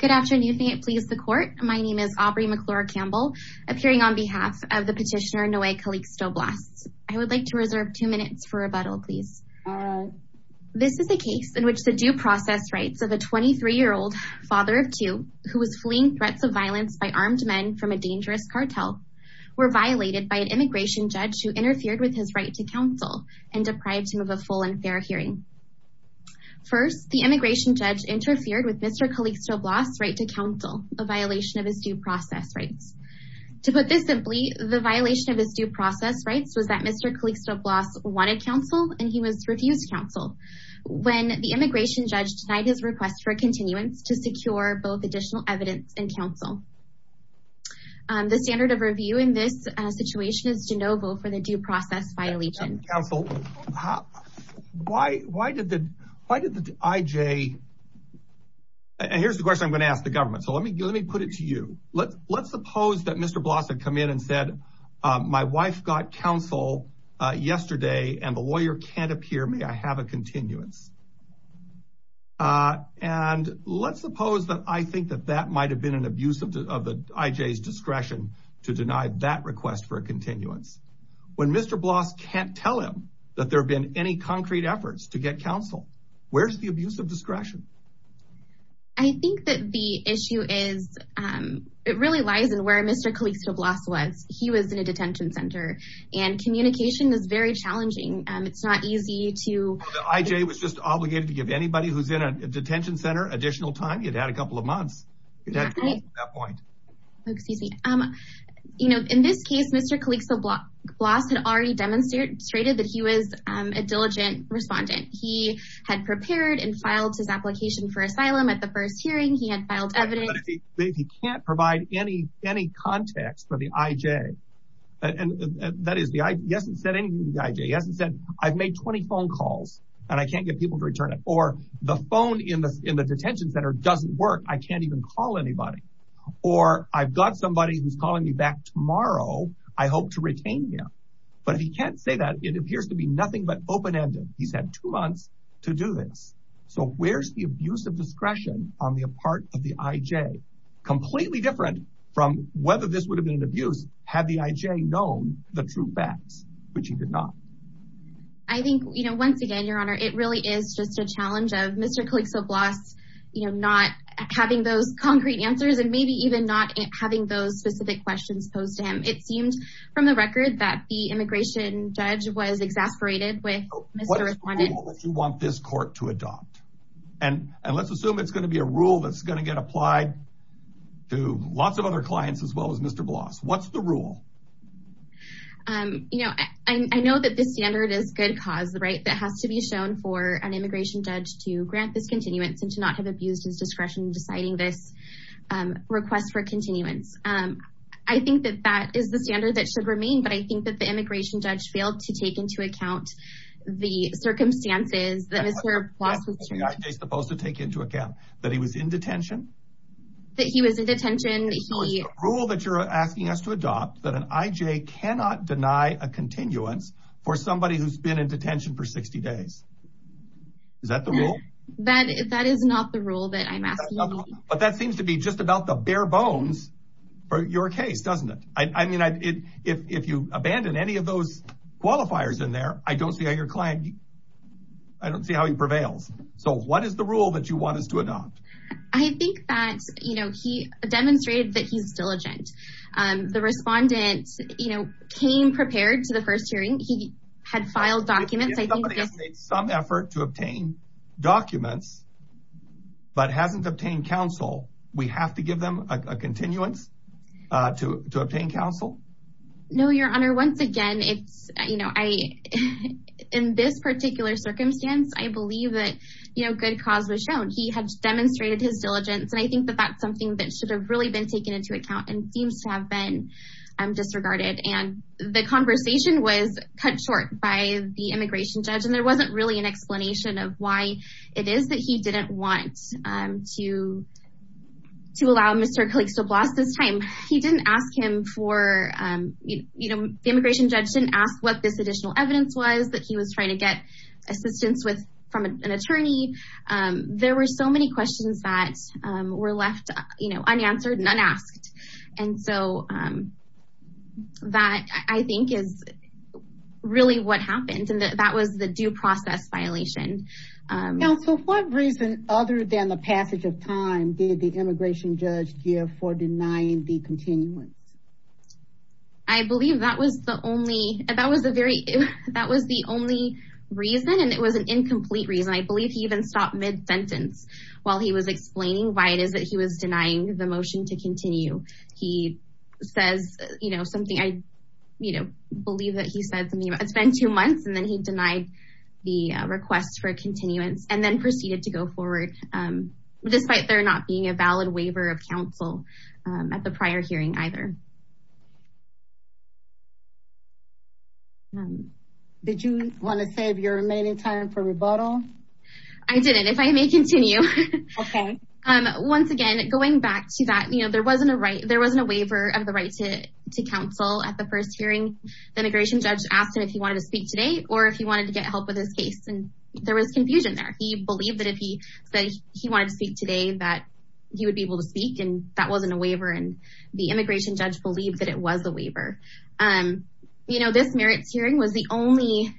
Good afternoon, may it please the court. My name is Aubrey McClure-Campbell, appearing on behalf of the petitioner Noe Calixto Blas. I would like to reserve two minutes for rebuttal, please. This is a case in which the due process rights of a 23-year-old, father of two, who was fleeing threats of violence by armed men from a dangerous cartel, were violated by an immigration judge who interfered with his right to counsel and deprived him of a full and fair hearing. First, the immigration judge interfered with Mr. Calixto Blas' right to counsel, a violation of his due process rights. To put this simply, the violation of his due process rights was that Mr. Calixto Blas wanted counsel and he was refused counsel, when the immigration judge denied his request for a continuance to secure both additional evidence and counsel. The standard of review in this situation is de novo for the due process violation. Counsel, why did the IJ, and here's the question I'm going to ask the government, so let me put it to you. Let's suppose that Mr. Blas had come in and said, my wife got counsel yesterday and the lawyer can't appear, may I have a continuance? And let's suppose that I think that that might have been an abuse of the IJ's discretion to deny that request for a continuance. When Mr. Blas can't tell him that there have been any concrete efforts to get counsel, where's the abuse of discretion? I think that the issue is, it really lies in where Mr. Calixto Blas was. He was in a detention center and communication is very challenging. It's not easy to... The IJ was just obligated to give anybody who's in a detention center additional time. He'd had a couple of months at that point. Oh, excuse me. In this case, Mr. Calixto Blas had already demonstrated that he was a diligent respondent. He had prepared and filed his application for asylum at the first hearing. He had filed evidence. But if he can't provide any context for the IJ, and that is, he hasn't said anything to the IJ. He hasn't said, I've made 20 phone calls and I can't get people to return it, or the phone in the detention center doesn't work, I can't even call anybody. Or I've got somebody who's calling me back tomorrow. I hope to retain him. But if he can't say that, it appears to be nothing but open-ended. He's had two months to do this. So where's the abuse of discretion on the part of the IJ? Completely different from whether this would have been an abuse had the IJ known the true facts, which he did not. I think, once again, Your Honor, it really is just a challenge of Mr. Calixto Blas not having those concrete answers, and maybe even not having those specific questions posed to him. It seems, from the record, that the immigration judge was exasperated with Mr. Respondent. What is the rule that you want this court to adopt? And let's assume it's going to be a rule that's going to get applied to lots of other clients as well as Mr. Blas. What's the rule? I know that this standard is good cause, right? It has to be shown for an immigration judge to grant this continuance and to not have abused his discretion in deciding this request for continuance. I think that that is the standard that should remain, but I think that the immigration judge failed to take into account the circumstances that Mr. Blas was... What is the IJ supposed to take into account? That he was in detention? That he was in detention. So it's the rule that you're asking us to adopt that an IJ cannot deny a continuance for somebody who's been in detention for 60 days. Is that the rule? That is not the rule that I'm asking you. But that seems to be just about the bare bones for your case, doesn't it? I mean, if you abandon any of those qualifiers in there, I don't see how your client... I don't see how he prevails. So what is the rule that you want us to adopt? I think that he demonstrated that he's diligent. The respondent came prepared to the first hearing. He had filed documents. If somebody has made some effort to obtain documents, but hasn't obtained counsel, we have to give them a continuance to obtain counsel? No, Your Honor. Once again, in this particular circumstance, I believe that good cause was shown. He had demonstrated his diligence. And I think that that's something that should have really been taken into account and seems to have been disregarded. And the conversation was cut short by the immigration judge. And there wasn't really an explanation of why it is that he didn't want to allow Mr. Clixoblast this time. He didn't ask him for... The immigration judge didn't ask what this additional evidence was that he was trying to get assistance from an attorney. There were so many questions that were left unanswered and unasked. And so that I think is really what happened. And that was the due process violation. Counsel, what reason other than the passage of time did the immigration judge give for denying the continuance? I believe that was the only reason. And it was an incomplete reason. I believe he even stopped mid-sentence while he was explaining why it is that he was denying the motion to continue. He says something... I believe that he said something about it's been two months and then he denied the request for continuance and then proceeded to go forward despite there not being a valid waiver of counsel at the prior hearing either. Did you want to save your remaining time for rebuttal? I didn't. If I may continue. Okay. Once again, going back to that, there wasn't a waiver of the right to counsel at the first hearing. The immigration judge asked him if he wanted to speak today or if he wanted to get help with his case. And there was confusion there. He believed that if he said he wanted to speak today that he would be able to speak and that wasn't a waiver. And the immigration judge believed that it was a waiver. This merits hearing was the only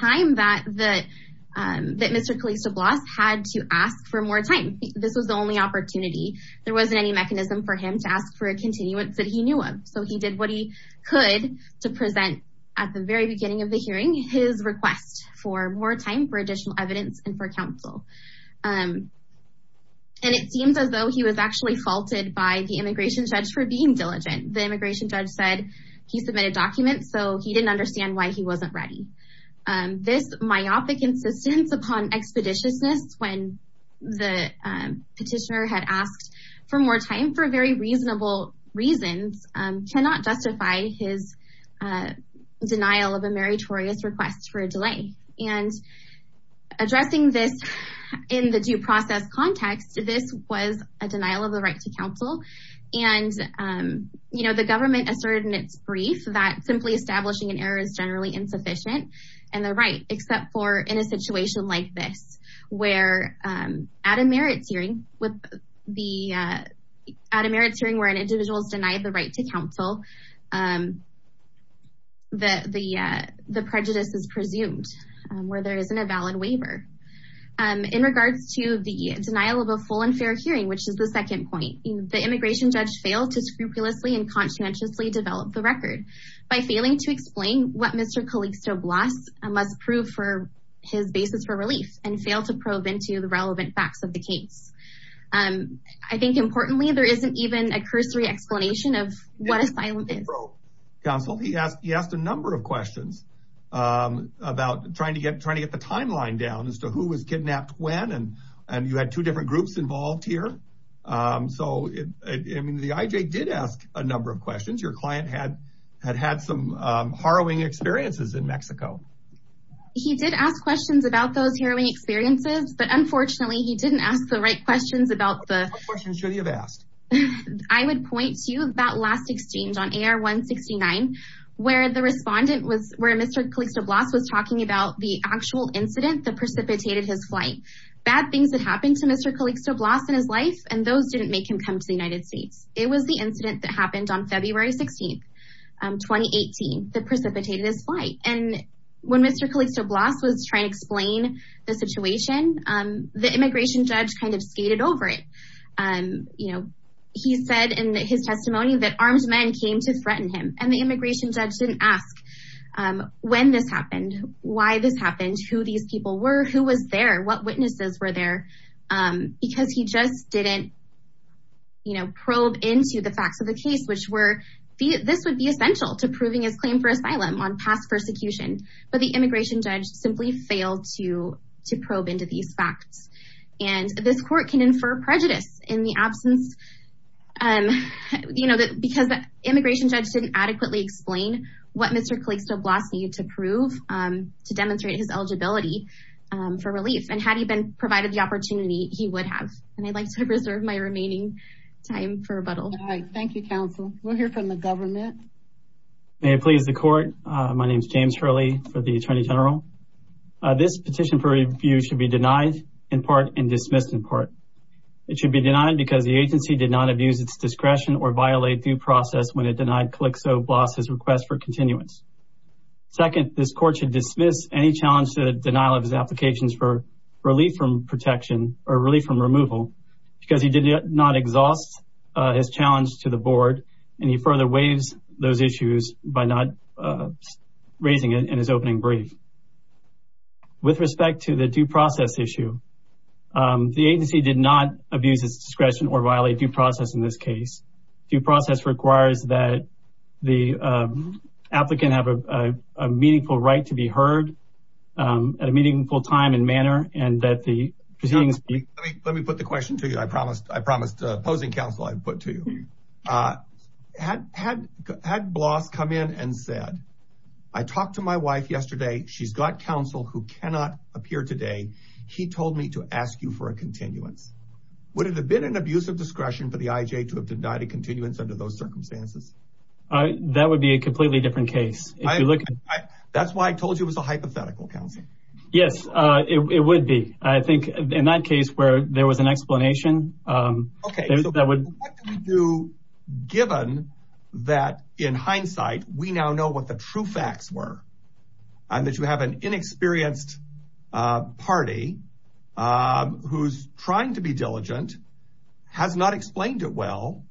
time that Mr. Calista-Bloss had to ask for more time this was the only opportunity. There wasn't any mechanism for him to ask for a continuance that he knew of. So he did what he could to present at the very beginning of the hearing his request for more time for additional evidence and for counsel. And it seems as though he was actually faulted by the immigration judge for being diligent. The immigration judge said he submitted documents so he didn't understand why he wasn't ready. This myopic insistence upon expeditiousness when the petitioner had asked for more time for very reasonable reasons cannot justify his denial of a meritorious request for a delay. And addressing this in the due process context this was a denial of the right to counsel. And the government asserted in its brief that simply establishing an error is generally insufficient and they're right except for in a situation like this where at a merits hearing where an individual is denied the right to counsel that the prejudice is presumed where there isn't a valid waiver. In regards to the denial of a full and fair hearing which is the second point the immigration judge failed to scrupulously and conscientiously develop the record by failing to explain what Mr. Calista-Bloss must prove for his basis for relief and failed to probe into the relevant facts of the case. I think importantly there isn't even a cursory explanation of what asylum is. Counsel he asked a number of questions about trying to get the timeline down as to who was kidnapped when and you had two different groups involved here. So I mean the IJ did ask a number of questions. Your client had had some harrowing experiences in Mexico. He did ask questions about those harrowing experiences but unfortunately he didn't ask the right questions about the... What questions should he have asked? I would point to that last exchange on AR-169 where the respondent was where Mr. Calista-Bloss was talking about the actual incident that precipitated his flight. Bad things that happened to Mr. Calista-Bloss in his life and those didn't make him come to the United States. It was the incident that happened on February 16, 2018 that precipitated his flight and when Mr. Calista-Bloss was trying to explain the situation the immigration judge kind of skated over it. He said in his testimony that armed men came to threaten him and the immigration judge didn't ask when this happened, why this happened, who these people were, who was there, what witnesses were there because he just didn't probe into the facts of the case This would be essential to proving his claim for asylum on past persecution but the immigration judge simply failed to probe into these facts and this court can infer prejudice in the absence because the immigration judge didn't adequately explain what Mr. Calista-Bloss needed to prove to demonstrate his eligibility for relief and had he been provided the opportunity he would have and I'd like to reserve my remaining time for rebuttal. Thank you counsel. We'll hear from the government. May it please the court. My name is James Hurley for the Attorney General. This petition for review should be denied in part and dismissed in part. It should be denied because the agency did not abuse its discretion or violate due process when it denied Calista-Bloss's request for continuance. Second, this court should dismiss any challenge to the denial of his applications for relief from protection or relief from removal because he did not exhaust his challenge to the board and he further waives those issues by not raising it in his opening brief. With respect to the due process issue, the agency did not abuse its discretion or violate due process in this case. Due process requires that the applicant have a meaningful right to be heard at a meaningful time and manner and that the proceedings be Let me put the question to you. I promised opposing counsel I'd put to you. Had Bloss come in and said, I talked to my wife yesterday. She's got counsel who cannot appear today. He told me to ask you for a continuance. Would it have been an abuse of discretion for the IJ to have denied a continuance under those circumstances? That would be a completely different case. That's why I told you it was a hypothetical counsel. Yes, it would be. I think in that case where there was an explanation. Okay, so what do we do given that in hindsight, we now know what the true facts were and that you have an inexperienced party who's trying to be diligent, has not explained it well,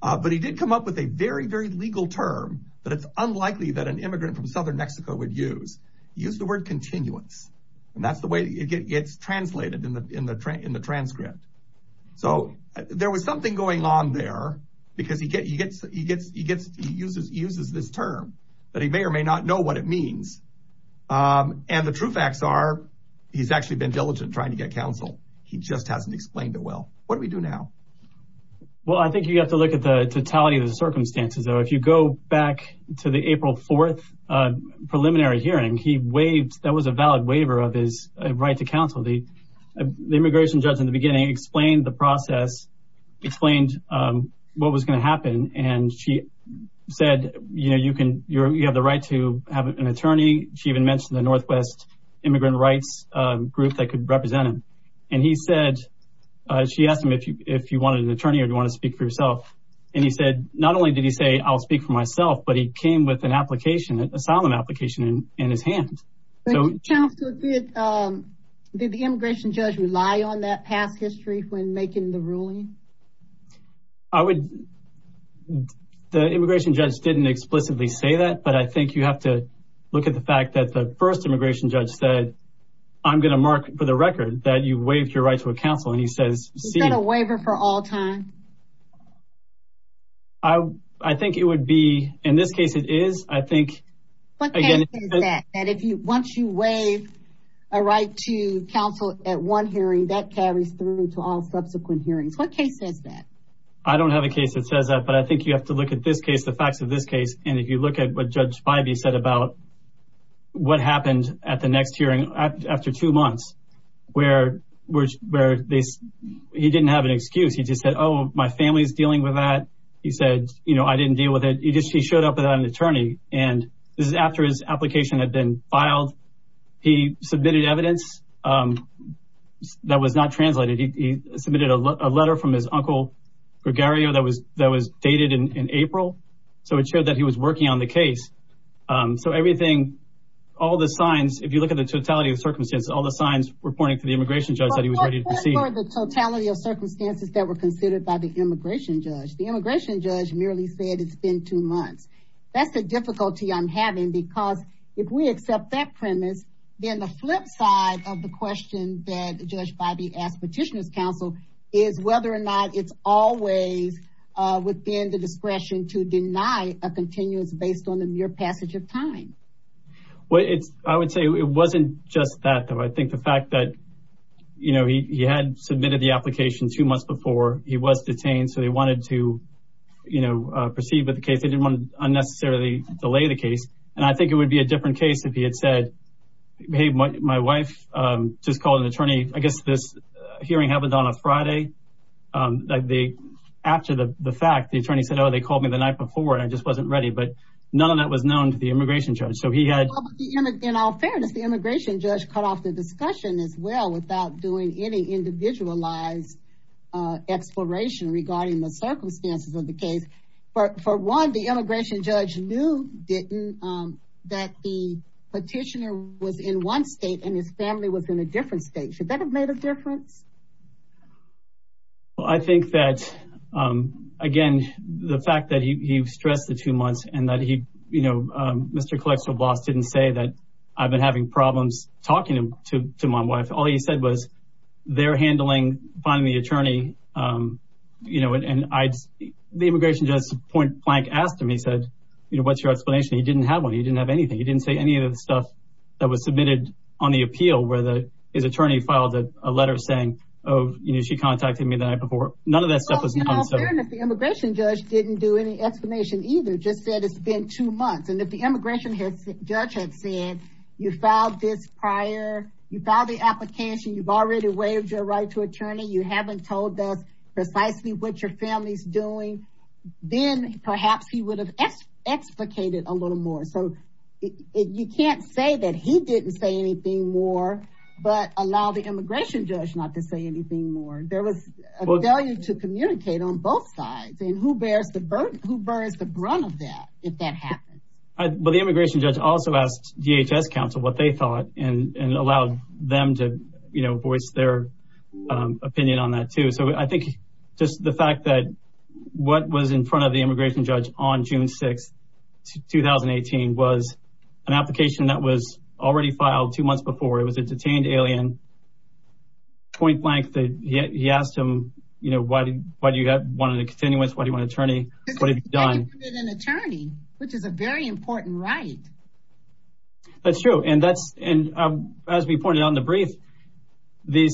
but he did come up with a very, very legal term that it's unlikely that an immigrant from Southern Mexico would use. Use the word continuance. And that's the way it gets translated in the transcript. So there was something going on there because he uses this term, but he may or may not know what it means. And the true facts are he's actually been diligent trying to get counsel. He just hasn't explained it well. What do we do now? Well, I think you have to look at the totality of the circumstances. If you go back to the April 4th preliminary hearing, that was a valid waiver of his right to counsel. The immigration judge in the beginning explained the process, explained what was going to happen. And she said, you have the right to have an attorney. She even mentioned the Northwest immigrant rights group that could represent him. And he said, she asked him if you wanted an attorney or do you want to speak for yourself? And he said, not only did he say, I'll speak for myself, but he came with an application, an asylum application in his hand. Did the immigration judge rely on that past history when making the ruling? The immigration judge didn't explicitly say that, but I think you have to look at the fact that the first immigration judge said, I'm going to mark for the record that you waived your right to a counsel. And he says, he's got a waiver for all time. I think it would be, in this case, it is, I think. And if you, once you waive a right to counsel at one hearing that carries through to all subsequent hearings, what case says that? I don't have a case that says that, but I think you have to look at this case, the facts of this case. And if you look at what judge Spivey said about what happened at the next hearing after two months, where he didn't have an excuse, he just said, my family's dealing with that. He said, I didn't deal with it. He just, he showed up without an attorney. And this is after his application had been filed. He submitted evidence that was not translated. He submitted a letter from his uncle Gregario that was dated in April. So it showed that he was working on the case. So everything, all the signs, if you look at the totality of circumstances, all the signs reporting to the immigration judge that he was ready to proceed. The totality of circumstances that were considered by the immigration judge, the immigration judge merely said it's been two months. That's the difficulty I'm having because if we accept that premise, then the flip side of the question that judge Spivey asked petitioners counsel is whether or not it's always within the discretion to deny a continuous based on the mere passage of time. Well, it's, I would say it wasn't just that though. I think the fact that, you know, he had submitted the application two months before he was detained. So they wanted to, you know, proceed with the case. They didn't want to unnecessarily delay the case. And I think it would be a different case if he had said, hey, my wife just called an attorney. I guess this hearing happened on a Friday. Like they, after the fact, the attorney said, oh, they called me the night before and I just wasn't ready. But none of that was known to the immigration judge. He had in all fairness, the immigration judge cut off the discussion as well without doing any individualized exploration regarding the circumstances of the case. But for one, the immigration judge knew didn't that the petitioner was in one state and his family was in a different state. Should that have made a difference? Well, I think that again, the fact that he stressed the two months and that he, you know, Mr. Klexerblos didn't say that I've been having problems talking to my wife. All he said was they're handling finding the attorney. You know, and the immigration judge's point blank asked him, he said, you know, what's your explanation? He didn't have one. He didn't have anything. He didn't say any of the stuff that was submitted on the appeal, whether his attorney filed a letter saying, oh, you know, she contacted me the night before. None of that stuff was known. In all fairness, the immigration judge didn't do any explanation either. Just said it's been two months. And if the immigration judge had said you filed this prior, you filed the application, you've already waived your right to attorney. You haven't told us precisely what your family's doing. Then perhaps he would have explicated a little more. So you can't say that he didn't say anything more, but allow the immigration judge not to say anything more. There was a value to communicate on both sides. Who bears the burden? Who bears the brunt of that? If that happens. But the immigration judge also asked DHS counsel what they thought and allowed them to, you know, voice their opinion on that too. So I think just the fact that what was in front of the immigration judge on June 6, 2018 was an application that was already filed two months before. It was a detained alien. Point blank, he asked him, you know, why do you want to continue attorney? What have you done? Which is a very important right. That's true. And that's, and as we pointed out in the brief, the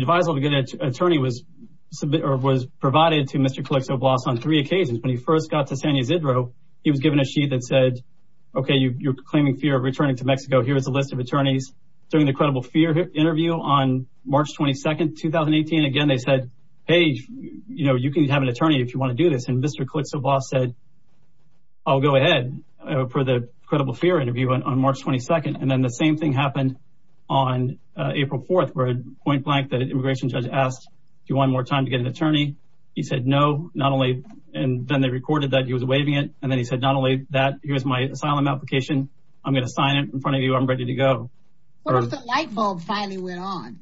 advisory attorney was provided to Mr. Calypso-Blas on three occasions. When he first got to San Ysidro, he was given a sheet that said, okay, you're claiming fear of returning to Mexico. Here's a list of attorneys. During the credible fear interview on March 22, 2018, again, they said, hey, you know, you can have an attorney if you want to do this. And Mr. Calypso-Blas said, I'll go ahead for the credible fear interview on March 22. And then the same thing happened on April 4th, where point blank, the immigration judge asked, do you want more time to get an attorney? He said, no, not only, and then they recorded that he was waiving it. And then he said, not only that, here's my asylum application. I'm going to sign it in front of you. I'm ready to go. What if the light bulb finally went on?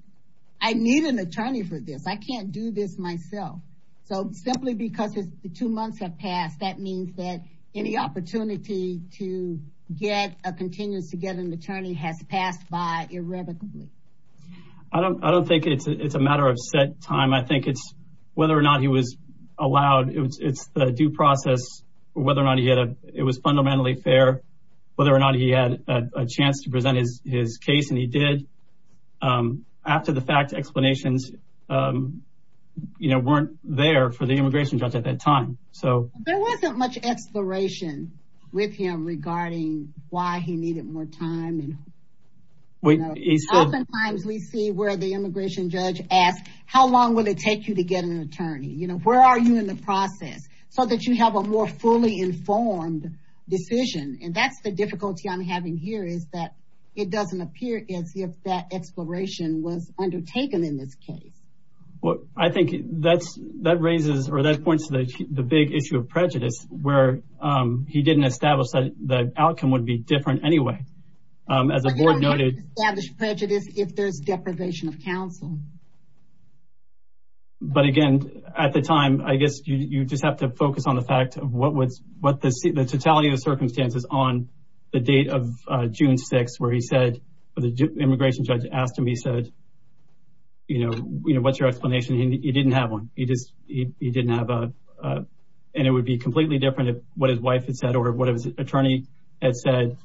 I need an attorney for this. I can't do this myself. So simply because the two months have passed, that means that any opportunity to get a continuous to get an attorney has passed by irrevocably. I don't think it's a matter of set time. I think it's whether or not he was allowed. It's the due process, whether or not it was fundamentally fair, whether or not he had a chance to present his case. He did. After the fact, explanations weren't there for the immigration judge at that time. There wasn't much exploration with him regarding why he needed more time. Oftentimes, we see where the immigration judge asks, how long will it take you to get an attorney? Where are you in the process so that you have a more fully informed decision? That's the difficulty I'm having here is that it doesn't appear as if that exploration was undertaken in this case. I think that's that raises or that points to the big issue of prejudice where he didn't establish that the outcome would be different anyway. As the board noted, prejudice if there's deprivation of counsel. But again, at the time, I guess you just have to focus on the fact of what the totality of the circumstances on the date of June 6th, where the immigration judge asked him, he said, what's your explanation? He didn't have one. And it would be completely different if what his wife had said or what his attorney had said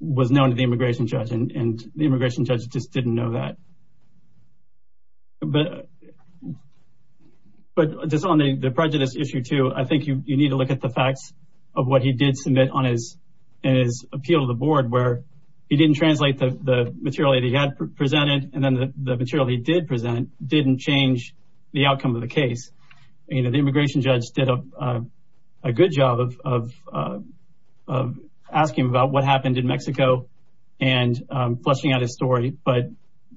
was known to the immigration judge. And the immigration judge just didn't know that. But just on the prejudice issue too, I think you need to look at the facts of what he did submit on his appeal to the board where he didn't translate the material that he had presented. And then the material he did present didn't change the outcome of the case. The immigration judge did a good job of asking him about what happened in Mexico and flushing out his story. But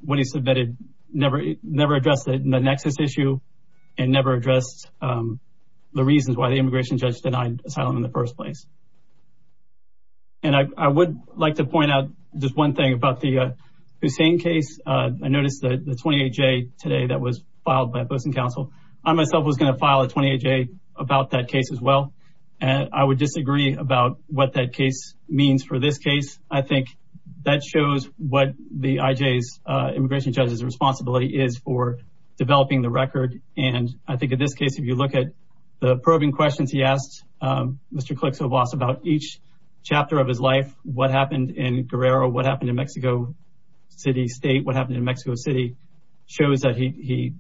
what he submitted never addressed the nexus issue and never addressed the reasons why the immigration judge denied asylum in the first place. And I would like to point out just one thing about the Hussein case. I noticed that the 28-J today that was filed by a person counsel, I myself was going to file a 28-J about that case as well. And I would disagree about what that case means for this case. I think that shows what the IJ's immigration judge's responsibility is for developing the record. And I think in this case, if you look at the probing questions he asked Mr. Clixo Blas about each chapter of his life, what happened in Guerrero, what happened in Mexico City State, what happened in Mexico City, shows that he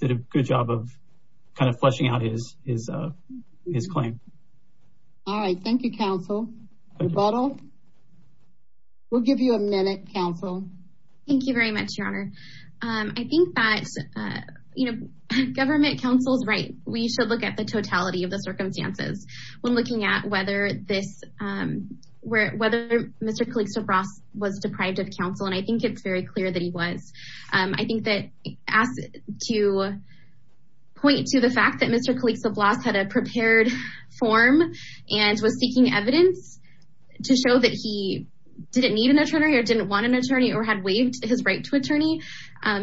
did a good job of kind of flushing out his claim. All right. Thank you, counsel. We'll give you a minute, counsel. Thank you very much, your honor. I think that government counsel's right. We should look at the totality of the circumstances when looking at whether Mr. Clixo Blas was deprived of counsel. And I think it's very clear that he was. I think that to point to the fact that Mr. Clixo Blas had a prepared form and was seeking evidence to show that he didn't need an attorney or didn't want an attorney or had waived his right to attorney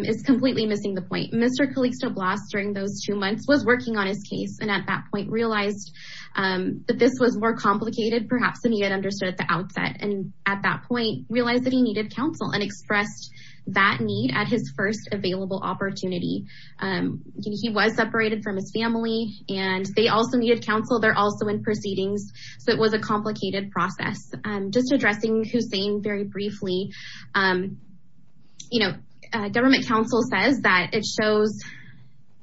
is completely missing the point. Mr. Clixo Blas during those two months was working on his case and at that point realized that this was more complicated perhaps than he had understood at the outset. And at that point realized that he needed counsel and expressed that need at his first available opportunity. He was separated from his family and they also needed counsel. They're also in proceedings. So it was a complicated process. Just addressing Hussein very briefly. You know, government counsel says that it shows,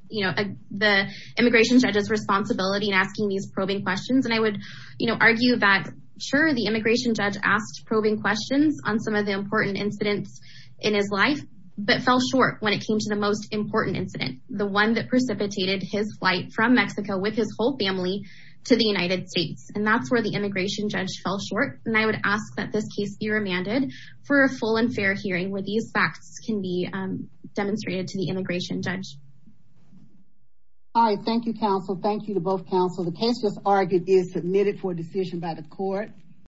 you know, the immigration judge's responsibility in asking these probing questions. And I would, you know, argue that sure, the immigration judge asked probing questions on some of the important incidents in his life, but fell short when it came to the most important incident, the one that precipitated his flight from Mexico with his whole family to the United States. And that's where the immigration judge fell short. And I would ask that this case be remanded for a full and fair hearing where these facts can be demonstrated to the immigration judge. All right. Thank you, counsel. Thank you to both counsel. The case just argued is submitted for decision by the court.